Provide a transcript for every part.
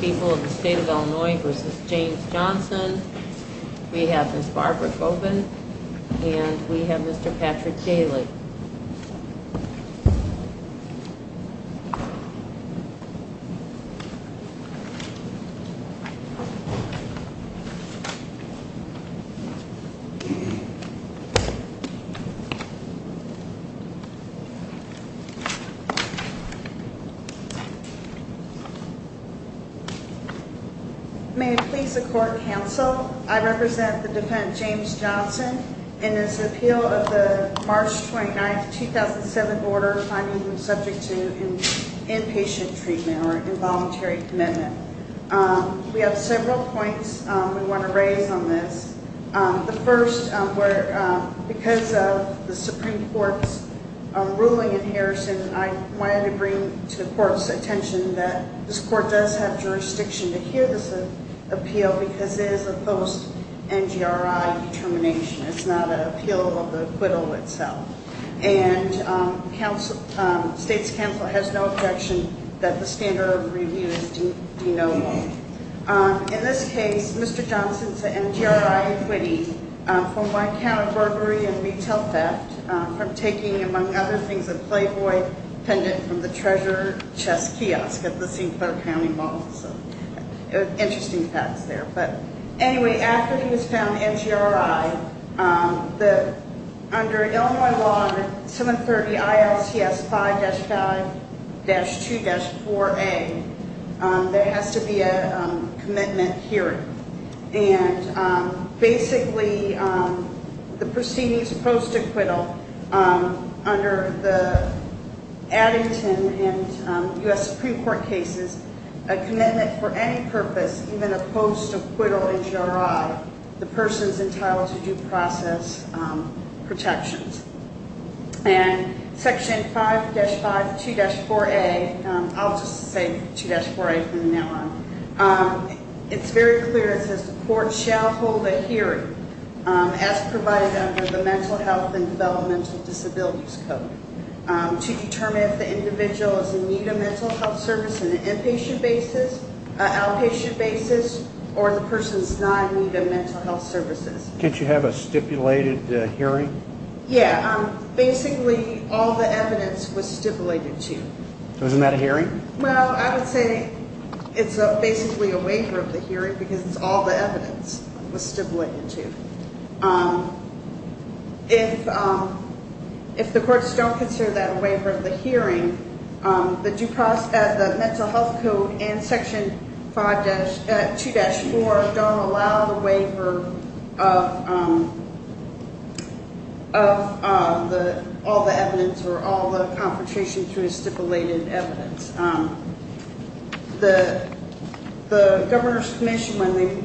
People of the State of Illinois v. James Johnson We have Ms. Barbara Coven And we have Mr. Patrick Daly May it please the court, counsel I represent the defendant, James Johnson In his appeal of the March 29, 2007 order Finding him subject to inpatient treatment Or involuntary commitment We have several points we want to raise on this The first, because of the Supreme Court's ruling in Harrison I wanted to bring to the court's attention That this court does have jurisdiction to hear this appeal Because it is a post-NGRI determination It's not an appeal of the acquittal itself And state's counsel has no objection That the standard of review is de novo In this case, Mr. Johnson's NGRI acquittee For my count of burglary and retail theft From taking, among other things, a Playboy pendant From the treasure chest kiosk at the St. Clair County Mall So interesting facts there But anyway, after he was found NGRI Under Illinois Law 730 ILCS 5-5-2-4A There has to be a commitment hearing And basically, the proceedings post-acquittal Under the Addington and U.S. Supreme Court cases A commitment for any purpose, even a post-acquittal NGRI The person's entitled to due process protections And Section 5-5-2-4A I'll just say 2-4A from now on It's very clear, it says the court shall hold a hearing As provided under the Mental Health and Developmental Disabilities Code To determine if the individual is in need of mental health services On an inpatient basis, an outpatient basis Or the person's not in need of mental health services Can't you have a stipulated hearing? Yeah, basically all the evidence was stipulated to So isn't that a hearing? Well, I would say it's basically a waiver of the hearing Because it's all the evidence was stipulated to If the courts don't consider that a waiver of the hearing The Mental Health Code and Section 2-4 Don't allow the waiver of all the evidence Or all the confrontation through stipulated evidence The Governor's Commission, when they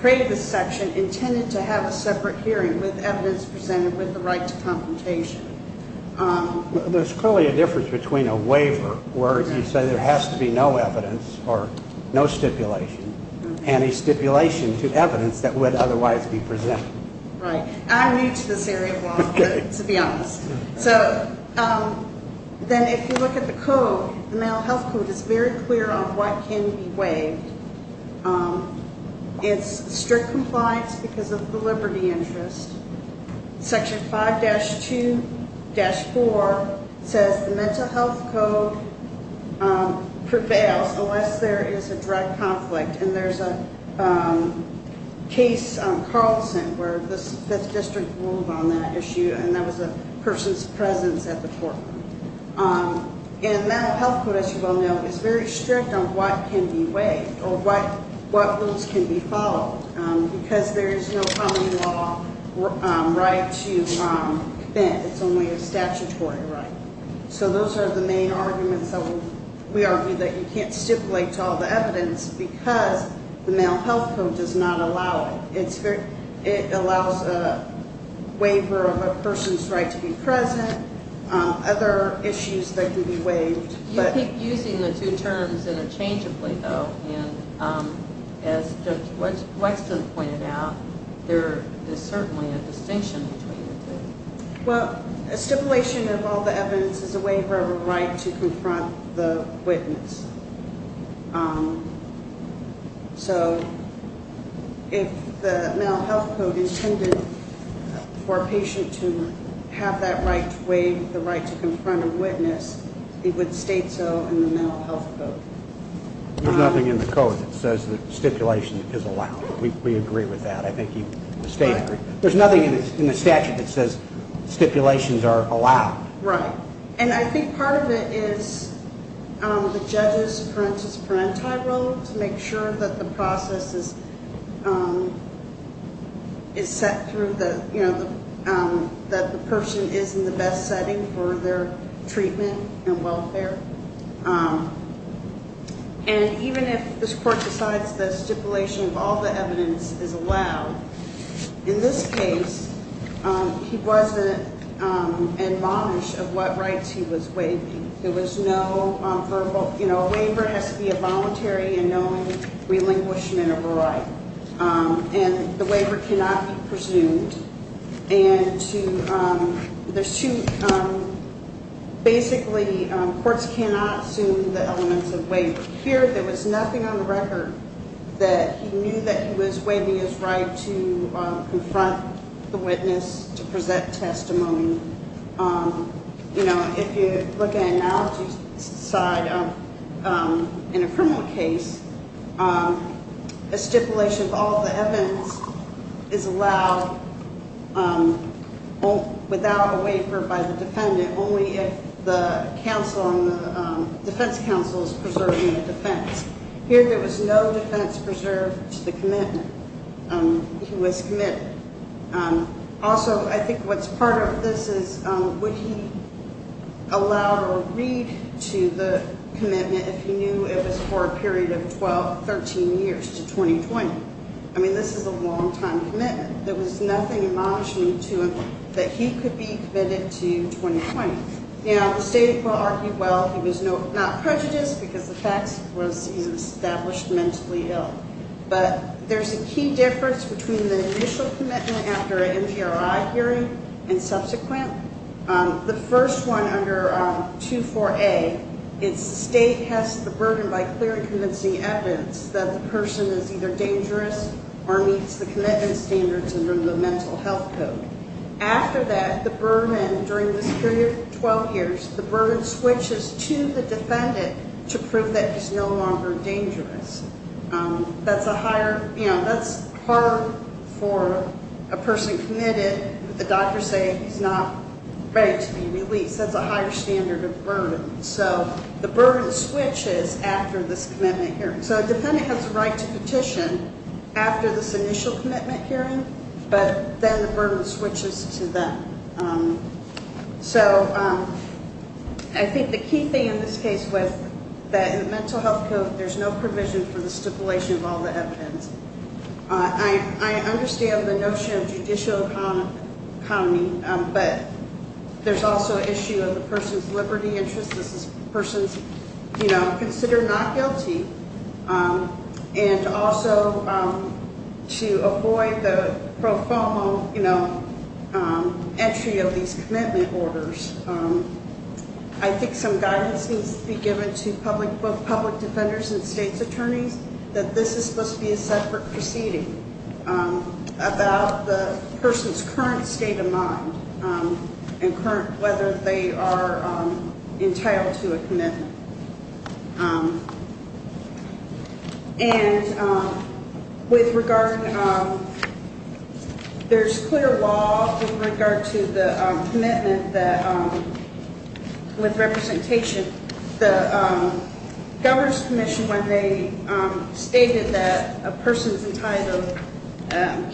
created this section Intended to have a separate hearing with evidence presented With the right to confrontation There's clearly a difference between a waiver Where you say there has to be no evidence or no stipulation And a stipulation to evidence that would otherwise be presented Right, I'm new to this area of law, to be honest So then if you look at the code The Mental Health Code is very clear on what can be waived It's strict compliance because of the liberty interest Section 5-2-4 says the Mental Health Code prevails Unless there is a direct conflict And there's a case on Carlson Where the 5th District ruled on that issue And that was a person's presence at the courtroom And the Mental Health Code, as you well know Is very strict on what can be waived Or what rules can be followed Because there is no common law right to bend It's only a statutory right So those are the main arguments that we argue That you can't stipulate to all the evidence Because the Mental Health Code does not allow it It allows a waiver of a person's right to be present Other issues that could be waived You keep using the two terms interchangeably though And as Judge Wexton pointed out There is certainly a distinction between the two Well, a stipulation of all the evidence Is a waiver of a right to confront the witness So if the Mental Health Code intended For a patient to have that right to waive The right to confront a witness It would state so in the Mental Health Code There's nothing in the Code that says that stipulation is allowed We agree with that There's nothing in the statute that says stipulations are allowed Right And I think part of it is the judge's parentis parenti role To make sure that the process is set through That the person is in the best setting For their treatment and welfare And even if this court decides That stipulation of all the evidence is allowed In this case He wasn't admonished of what rights he was waiving There was no verbal You know, a waiver has to be a voluntary And known relinquishment of a right And the waiver cannot be presumed And to the suit Basically courts cannot assume the elements of waiver Here there was nothing on the record That he knew that he was waiving his right To confront the witness To present testimony You know, if you look at analogies In a criminal case A stipulation of all the evidence Is allowed Without a waiver by the defendant Only if the defense counsel is preserving the defense Here there was no defense preserved to the commitment He was committed Also, I think what's part of this is Would he allow or read to the commitment If he knew it was for a period of 12, 13 years to 2020 I mean, this is a long time commitment There was nothing admonishing to him That he could be committed to 2020 You know, the state will argue Well, he was not prejudiced Because the fact was he was established mentally ill But there's a key difference Between the initial commitment after an NGRI hearing And subsequent The first one under 24A It's the state has the burden By clearly convincing evidence That the person is either dangerous Or meets the commitment standards Under the mental health code After that, the burden During this period, 12 years The burden switches to the defendant To prove that he's no longer dangerous That's a higher, you know That's hard for a person committed The doctor saying he's not ready to be released That's a higher standard of burden So the burden switches after this commitment hearing So the defendant has the right to petition After this initial commitment hearing But then the burden switches to them So I think the key thing in this case Was that in the mental health code There's no provision for the stipulation Of all the evidence I understand the notion of judicial economy But there's also an issue Of the person's liberty interest This is the person's, you know Considered not guilty And also to avoid the pro fomo You know, entry of these commitment orders I think some guidance needs to be given To both public defenders and state's attorneys That this is supposed to be a separate proceeding About the person's current state of mind And whether they are entitled to a commitment And with regard There's clear law with regard to the commitment That with representation The Governor's Commission When they stated that a person's entitled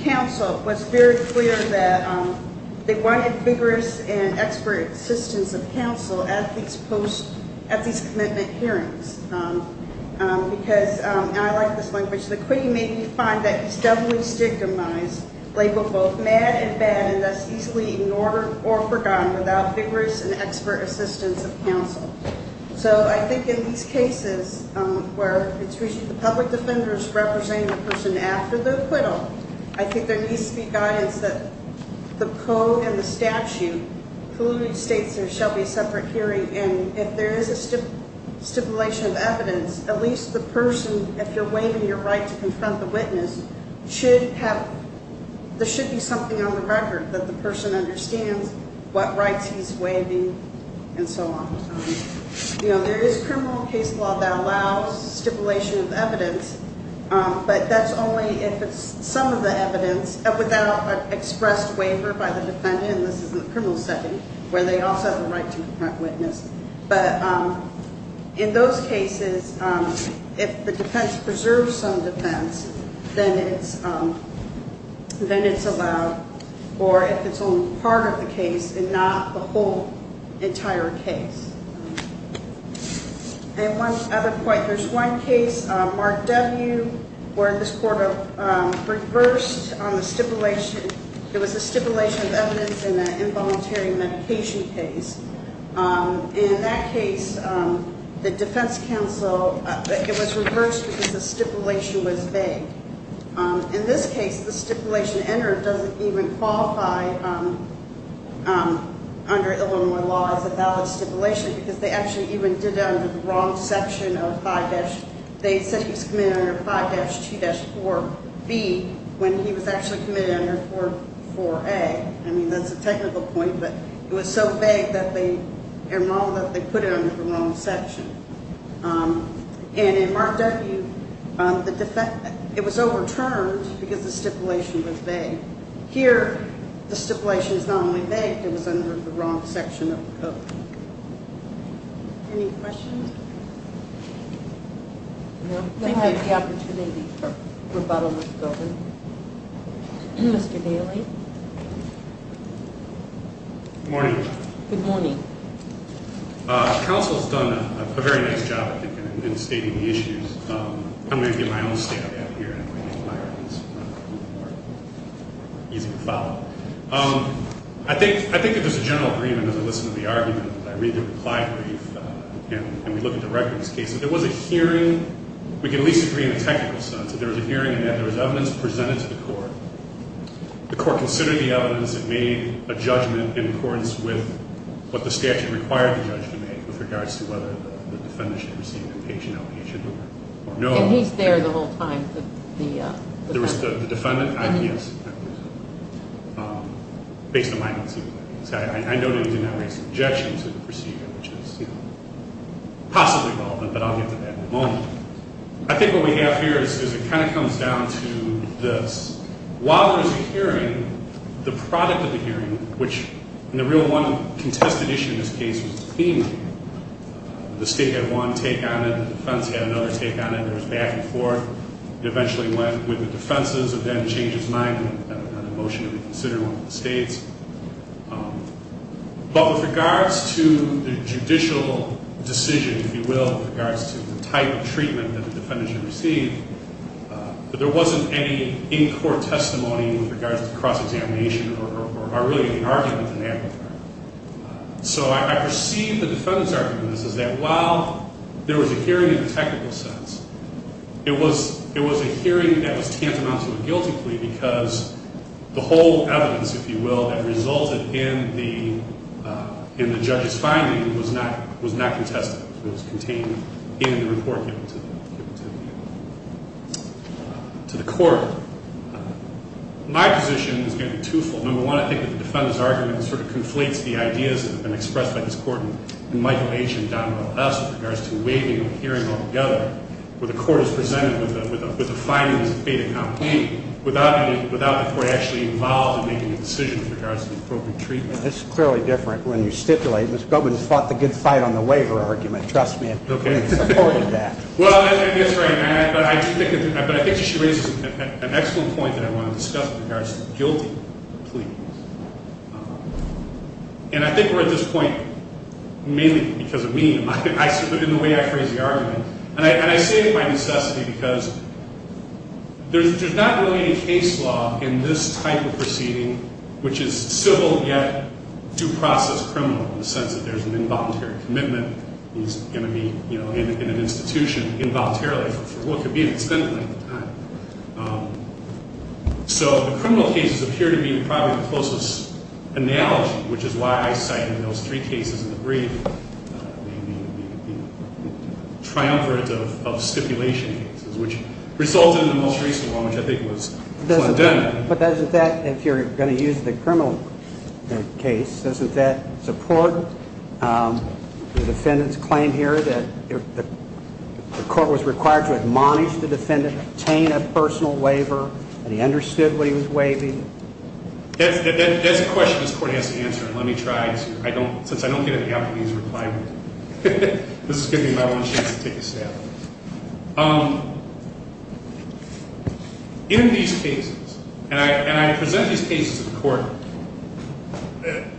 Counsel was very clear that They wanted vigorous and expert assistance Of counsel at these post Because, and I like this language The quitting made me find that He's definitely stigmatized Labeled both mad and bad And thus easily ignored or forgotten Without vigorous and expert assistance of counsel So I think in these cases Where it's usually the public defenders Representing the person after the acquittal I think there needs to be guidance That the code and the statute Colluding states there shall be a separate hearing And if there is a stipulation of evidence At least the person If you're waiving your right to confront the witness Should have There should be something on the record That the person understands What rights he's waiving and so on You know, there is criminal case law That allows stipulation of evidence But that's only if it's some of the evidence Without an expressed waiver by the defendant And this is in the criminal setting Where they also have the right to confront witness But in those cases If the defense preserves some defense Then it's allowed Or if it's only part of the case And not the whole entire case And one other point There's one case, Mark W. Where this court reversed on the stipulation It was a stipulation of evidence In an involuntary medication case And in that case The defense counsel It was reversed because the stipulation was vague In this case, the stipulation entered Doesn't even qualify Under Illinois law as a valid stipulation Because they actually even did that Under the wrong section of 5- They said he was committed under 5-2-4-B When he was actually committed under 4-4-A I mean, that's a technical point But it was so vague That they put it under the wrong section And in Mark W. It was overturned Because the stipulation was vague Here, the stipulation is not only vague It was under the wrong section of the code Any questions? I think we have the opportunity For rebuttal with the government Mr. Daly Good morning Good morning Counsel's done a very nice job In stating the issues I'm going to give my own state of the art here If I can get the mic Easy to follow I think that there's a general agreement As I listen to the argument I read the reply brief And we look at the record of this case There was a hearing We can at least agree in a technical sense There was a hearing And there was evidence presented to the court The court considered the evidence And made a judgment In accordance with What the statute required the judge to make With regards to whether The defendant should receive An inpatient outpatient Or no And he's there the whole time There was the defendant I mean, yes Based on my concerns I noted he did not raise an objection To the procedure Which is, you know Possibly relevant But I'll get to that in a moment I think what we have here Is it kind of comes down to this While there was a hearing The product of the hearing Which, in the real one Contested issue in this case Was the theme The state had one take on it The defense had another take on it There was back and forth It eventually went with the defenses It then changed its mind And had a motion to reconsider One of the states But with regards to The judicial decision, if you will With regards to The type of treatment That the defendant should receive But there wasn't any In-court testimony With regards to cross-examination Or really any argument in that regard So I perceive the defendant's argument Is that while There was a hearing in a technical sense It was a hearing That was tantamount to a guilty plea Because the whole evidence, if you will That resulted in the judge's finding Was not contested It was contained in the report Given to the court My position is going to be two-fold Number one, I think that the defendant's argument Sort of conflates the ideas That have been expressed by this court And Michael H. and Donald S. With regards to waiving a hearing altogether Where the court is presented With a fine that was paid in complaint Without the court actually involved In making a decision With regards to the appropriate treatment This is clearly different When you stipulate Mr. Goldman fought the good fight On the waiver argument Trust me, I fully supported that Well, that's right But I think you should raise An excellent point that I want to discuss With regards to the guilty plea And I think we're at this point Mainly because of me In the way I phrase the argument And I say it by necessity Because there's not really any case law In this type of proceeding Which is civil yet due process criminal In the sense that there's An involuntary commitment He's going to be, you know In an institution involuntarily For what could be an extended length of time So the criminal cases Appear to be probably the closest analogy Which is why I cite in those three cases In the brief The triumvirate of stipulation cases Which resulted in the most recent one Which I think was Plandemon But doesn't that If you're going to use the criminal case Doesn't that support The defendant's claim here That the court was required to admonish the defendant Obtain a personal waiver And he understood what he was waiving That's a question this court has to answer And let me try Since I don't get a Japanese reply This is giving me my one chance to take a stab In these cases And I present these cases to the court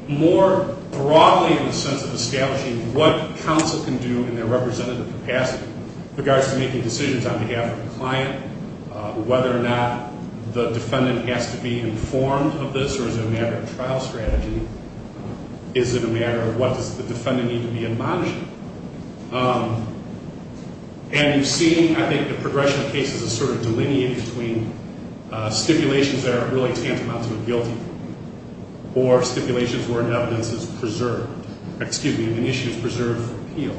More broadly in the sense of establishing What counsel can do In their representative capacity With regards to making decisions On behalf of the client Whether or not the defendant Has to be informed of this Or is it a matter of trial strategy Is it a matter of What does the defendant need to be admonishing And you've seen I think the progression of cases Is sort of delineated between Stipulations that are really tantamount to a guilty Or stipulations where an evidence is preserved Excuse me, an issue is preserved for appeal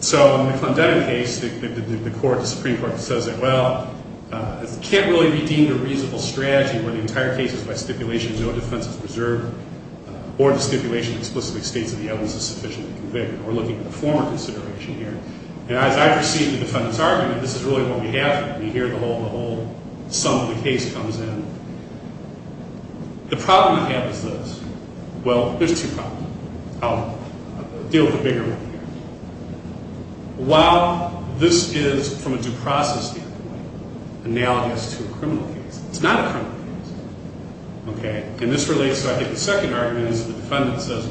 So in the Condetta case The Supreme Court says Well, it can't really be deemed a reasonable strategy Where the entire case is by stipulation No defense is preserved Or the stipulation explicitly states That the evidence is sufficiently convicted We're looking at the former consideration here And as I perceive the defendant's argument This is really what we have here The whole sum of the case comes in The problem we have is this Well, there's two problems I'll deal with the bigger one here While this is from a due process standpoint Analogous to a criminal case It's not a criminal case Okay, and this relates to I think the second argument is The defendant says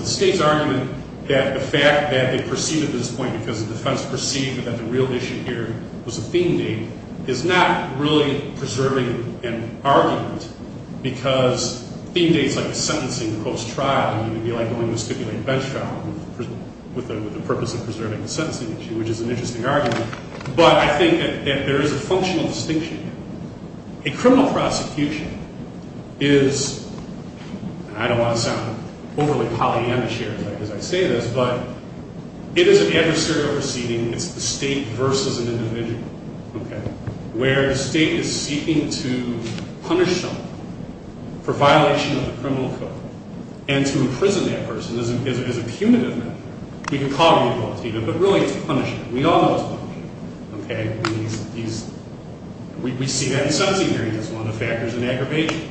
The state's argument That the fact that they perceive at this point Because the defense perceived That the real issue here Was a theme date Is not really preserving an argument Because theme dates like a sentencing post-trial Would be like going to stipulate bench trial With the purpose of preserving a sentencing issue Which is an interesting argument But I think that there is a functional distinction here A criminal prosecution is I don't want to sound overly Pollyanna-ish here As I say this, but It is an adversarial proceeding It's the state versus an individual Where the state is seeking to punish someone For violation of the criminal code And to imprison that person Is a punitive measure We can call it a punitive measure But really it's punishing We all know it's punishing We see that in sentencing hearings As one of the factors in aggravation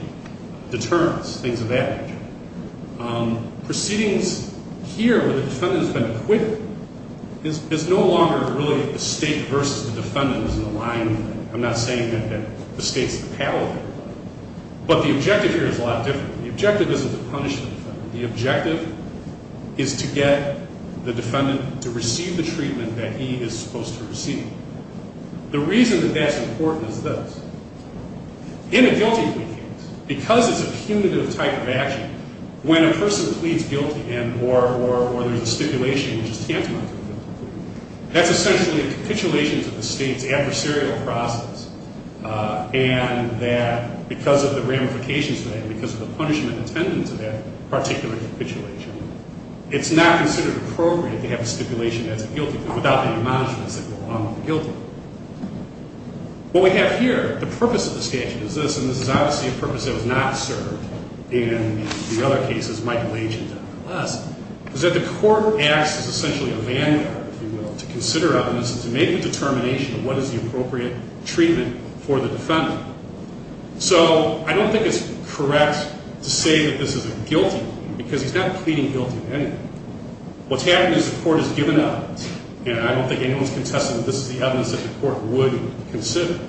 Determines things of that nature Proceedings here Where the defendant has been acquitted Is no longer really the state Versus the defendant is in the line I'm not saying that the state is the power But the objective here is a lot different The objective isn't to punish the defendant The objective is to get the defendant To receive the treatment that he is supposed to receive The reason that that's important is this In a guilty plea case Because it's a punitive type of action When a person pleads guilty Or there's a stipulation Which is tantamount to a guilty plea That's essentially a capitulation To the state's adversarial process And that because of the ramifications of that And because of the punishment Attended to that particular capitulation It's not considered appropriate To have a stipulation as a guilty plea Without the admonishments That go along with the guilty plea What we have here The purpose of the statute is this And this is obviously a purpose That was not served In the other cases Michael H. and Daniel S. Is that the court acts as essentially a landmark If you will To consider evidence And to make a determination Of what is the appropriate treatment For the defendant So I don't think it's correct To say that this is a guilty plea Because he's not pleading guilty to anything What's happened is the court has given evidence And I don't think anyone's contested That this is the evidence That the court would consider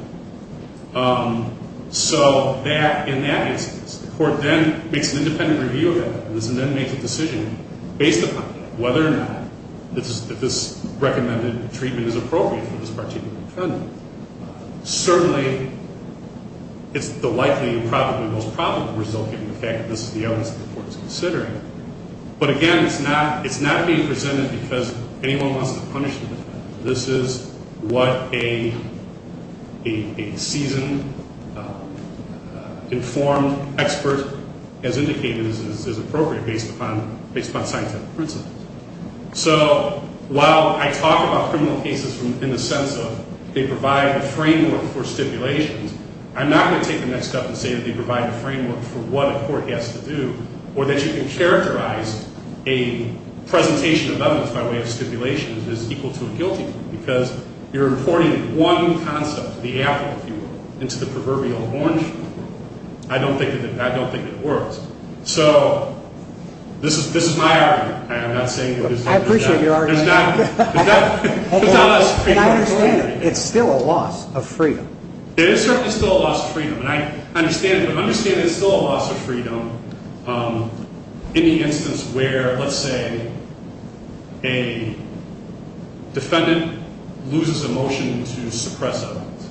So in that instance The court then makes an independent review of that And then makes a decision Based upon that Whether or not If this recommended treatment is appropriate For this particular defendant Certainly It's the likely And probably the most probable result Given the fact that this is the evidence That the court is considering But again, it's not being presented Because anyone wants to punish the defendant This is what a seasoned Informed expert Has indicated is appropriate Based upon scientific principles So while I talk about criminal cases In the sense of They provide a framework for stipulations I'm not going to take the next step And say that they provide a framework For what a court has to do Or that you can characterize A presentation of evidence By way of stipulations As equal to a guilty plea Because you're importing one concept The applicant, if you will Into the proverbial orange I don't think it works So this is my argument I appreciate your argument It's still a loss of freedom It is certainly still a loss of freedom And I understand it But I understand it's still a loss of freedom In the instance where, let's say A defendant loses a motion to suppress evidence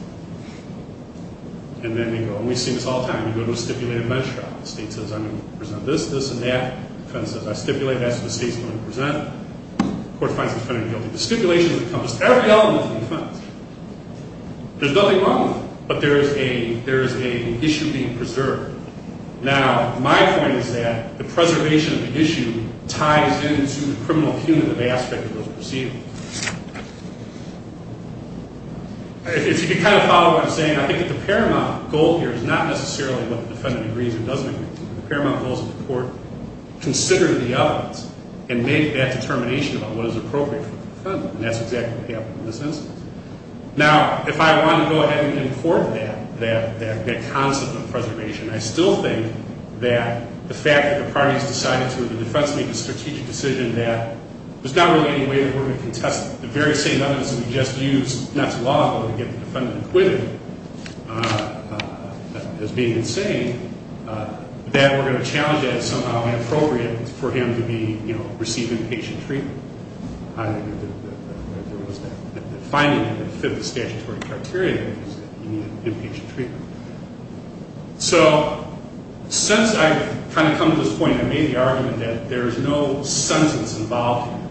And then they go, and we've seen this all the time You go to a stipulated bench trial The state says, I'm going to present this, this and that The defendant says, I stipulated that So the state's going to present it The court finds the defendant guilty The stipulation encompasses every element of defense There's nothing wrong with it But there is an issue being preserved Now, my point is that The preservation of the issue Ties into the criminal punitive aspect of those proceedings If you can kind of follow what I'm saying I think that the paramount goal here Is not necessarily what the defendant agrees or doesn't agree to The paramount goal is that the court Consider the evidence And make that determination About what is appropriate for the defendant And that's exactly what happened in this instance Now, if I want to go ahead and import that That concept of preservation I still think that the fact that the parties decided to In the defense make a strategic decision That there's not really any way That we're going to contest the very same evidence That we just used, not to law But to get the defendant acquitted As being insane That we're going to challenge that As somehow inappropriate For him to be, you know, receive inpatient treatment I don't think that there was that The finding that would fit the statutory criteria Was that he needed inpatient treatment So, since I've kind of come to this point I made the argument that There is no sentence involved here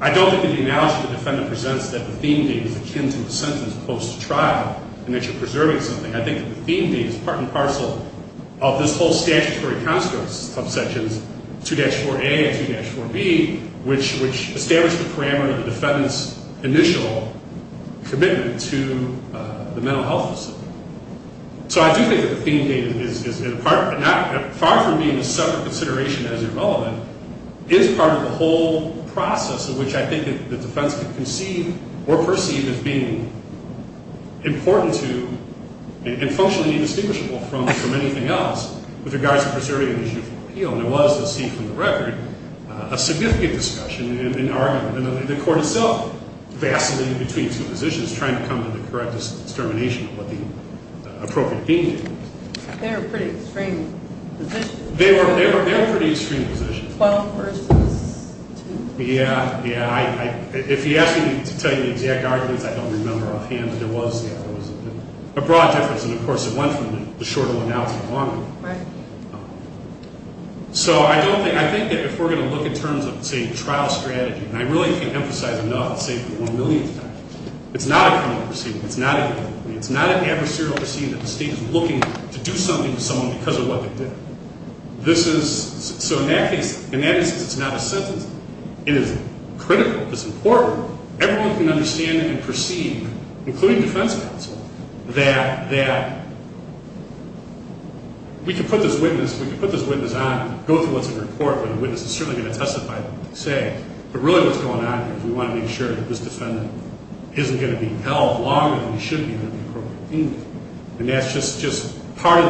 I don't think that the analogy the defendant presents That the theme date is akin to the sentence post-trial And that you're preserving something I think that the theme date is part and parcel Of this whole statutory construct of sections 2-4a and 2-4b Which establish the parameter of the defendant's Initial commitment to the mental health facility So, I do think that the theme date is Far from being a separate consideration As irrelevant Is part of the whole process In which I think the defense could conceive Or perceive as being important to And functionally indistinguishable from anything else With regards to preserving an issue for appeal And there was, as seen from the record A significant discussion and argument And the court itself Vastly in between two positions Trying to come to the correct determination Of what the appropriate theme date was They were pretty extreme positions They were pretty extreme positions 12 versus 2 Yeah, yeah If he asked me to tell you the exact arguments I don't remember offhand But there was a broad difference And of course it went from the shorter one Now to the longer one Right So, I don't think I think that if we're going to look In terms of, say, trial strategy And I really can't emphasize enough I'll say it for the one millionth time It's not a criminal proceeding It's not a It's not an adversarial proceeding That the state is looking to do something To someone because of what they did This is So in that case In that instance, it's not a sentence It is critical It's important Everyone can understand and perceive Including defense counsel That We can put this witness We can put this witness on Go through what's in your court But the witness is certainly going to testify Say But really what's going on Is we want to make sure That this defendant Isn't going to be held Longer than he should be Under the appropriate theme date And that's just Part of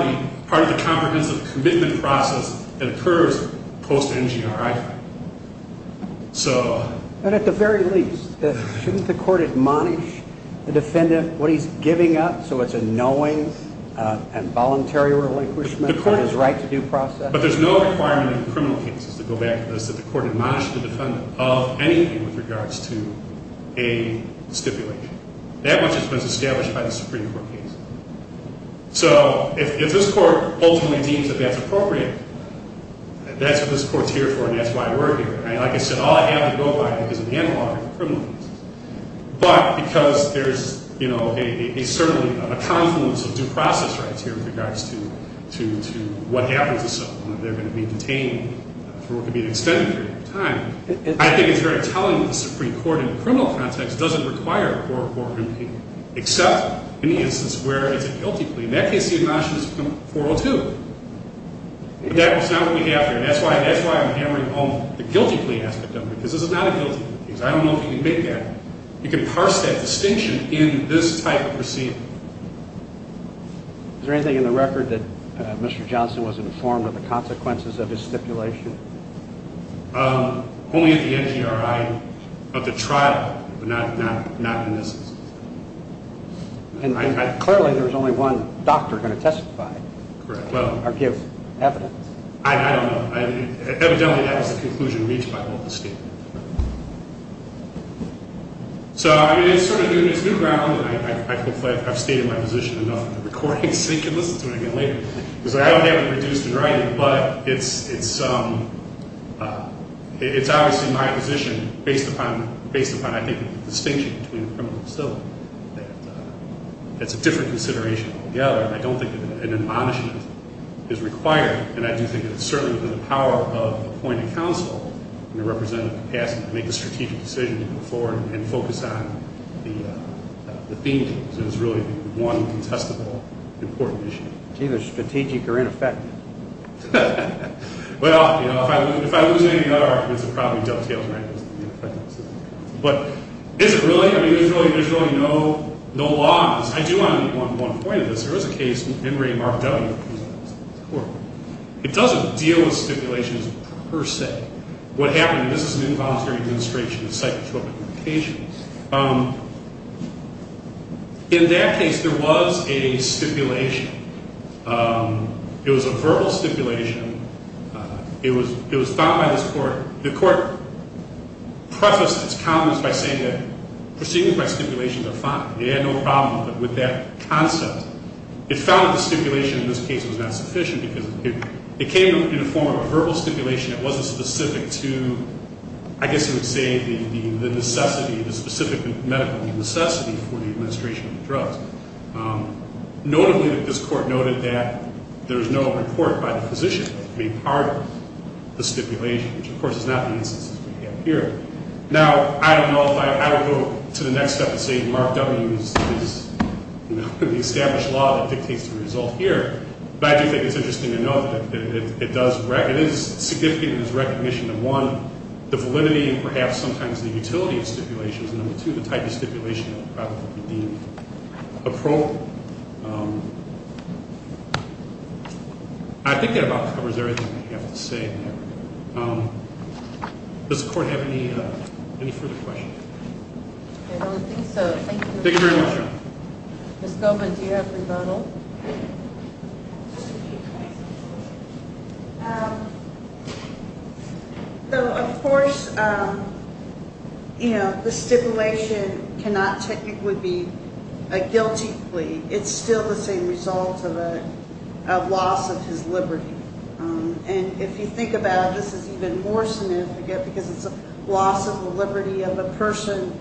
the Comprehensive commitment process That occurs Post NGRI So But at the very least Shouldn't the court admonish The defendant What he's giving up So it's a knowing And voluntary relinquishment Of his right to due process But there's no requirement In criminal cases To go back to this That the court admonish the defendant Of anything with regards to A stipulation That much has been established By the Supreme Court case So if this court Ultimately deems that That's appropriate That's what this court's here for And that's why we're here And like I said All I have to go by Because of the analog Are the criminalities But because there's You know A certainly A confluence of due process Rights here With regards to To What happens to someone If they're going to be detained For what could be An extended period of time I think it's very telling That the Supreme Court In a criminal context Doesn't require A court order in pain Except In the instance Where it's a guilty plea In that case The agency acknowledges 402 But that's not what we have here And that's why I'm hammering home The guilty plea aspect of it Because this is not a guilty plea I don't know if you can make that You can parse that distinction In this type of proceeding Is there anything in the record That Mr. Johnson was informed Of the consequences Of his stipulation? Only at the NGRI But the trial Not in this instance And clearly There's only one doctor Who's going to testify Or give evidence I don't know Evidently That was the conclusion Reached by all the statements So it's sort of New ground And hopefully I've stated my position Enough in the recording So you can listen to it Again later Because I don't have it Reduced in writing But it's It's obviously My position Based upon I think The distinction Between the criminal facility That's a different Consideration altogether And I don't think An admonishment Is required And I do think It's certainly The power of Appointing counsel In a representative capacity To make a strategic decision To go forward And focus on The theme Because it was really The one contestable Important issue It's either strategic Or ineffective Well If I lose any Other arguments It probably dovetails With the effectiveness Of the counsel But is it really? I mean There's really no Law on this I do want to One point of this There was a case In Ray Mardelli It doesn't deal With stipulations Per se What happened This is an involuntary Demonstration Of psychotropic Indications In that case There was a Stipulation It was a verbal Stipulation It was Found by this court The court Prefaced its comments By saying that Proceedings by stipulations Are fine They had no problem With that concept It found that The stipulation In this case Was not sufficient Because it came In the form of A verbal stipulation That wasn't specific To I guess You would say The necessity The specific medical Necessity For the administration Of the drugs Notably This court noted That there was No report By the physician To be part Of the stipulation Which of course Is not the instances We have here Now I don't know if I I don't go To the next step And say Mark W. Is the established Law that dictates The result here But I do think It's interesting To note that It does It is significant In its recognition Of one The validity And perhaps Sometimes the utility Of stipulations And number two The type of stipulation That would probably Be deemed Approval I think that About covers Everything I have to say Does the court Have any Any further questions I don't think so Thank you Thank you very much Ms. Goldman Do you have a rebuttal So of course You know The stipulation Cannot technically And if you think Of a guilty plea It's still The same result Of a Of loss Of his liberty And if you think Of a guilty plea It's still The same result And if you think About it This is even more Significant Because it's A loss Of the liberty Of a person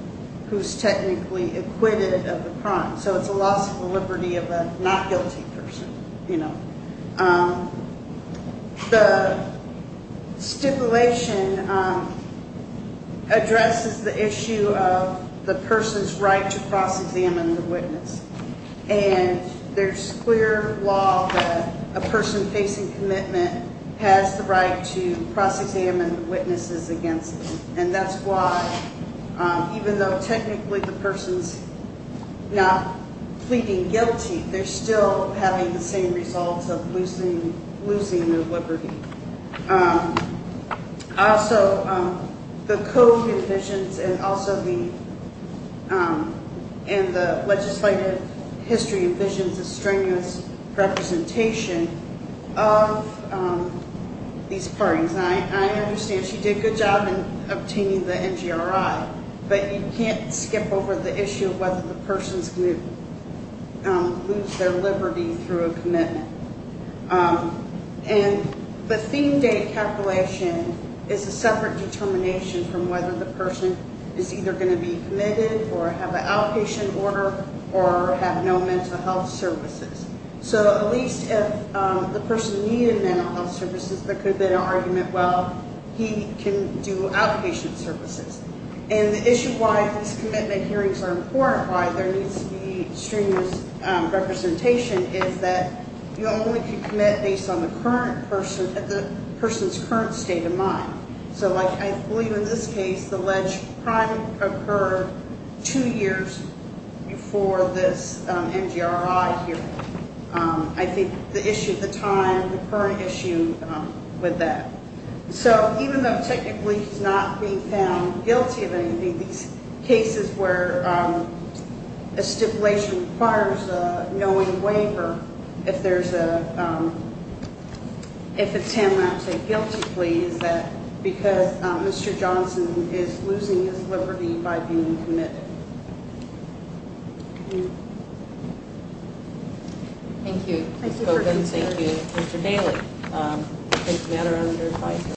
Who's technically Acquitted Of the crime So it's a loss Of the liberty Of a not guilty Person You know The Stipulation Addresses The issue Of The person's Right to Cross-examine The witness And there's Clear law That a person Facing commitment Has the right To cross-examine The witnesses Against them And that's why Even though Technically The person's Not Pleading guilty They're still Having the same Results of Losing Losing Their liberty Also The code Envisions And also The And the Legislative History Envisions A strenuous Representation Of The These Parties And I Understand She did A good job In obtaining The NGRI But you Can't skip Over the Issue of Whether the Person's Going to Lose their Liberty Through a Commitment And the Theme date Calculation Is a Separate Determination From whether The person Is either Going to Be Committed Or have An Outpatient Order Or have No Mental Health Services So at Least if The person Needed Mental Health Services There could Be an Argument Well He Can do Outpatient Services And the Issue Why These Commitment Hearings Are Important Why There Needs To Be Strenuous Representation Is that You only Can Commit Based on The Current Person At The Person's Current State Of Mind So like I believe In this Case The Ledge Crime Occurred Two Years Before This NGRI Hearing I think The Issue The Time The Current Issue With That So even Though Technically He's Not Being Found Guilty Of Anything These Cases Where A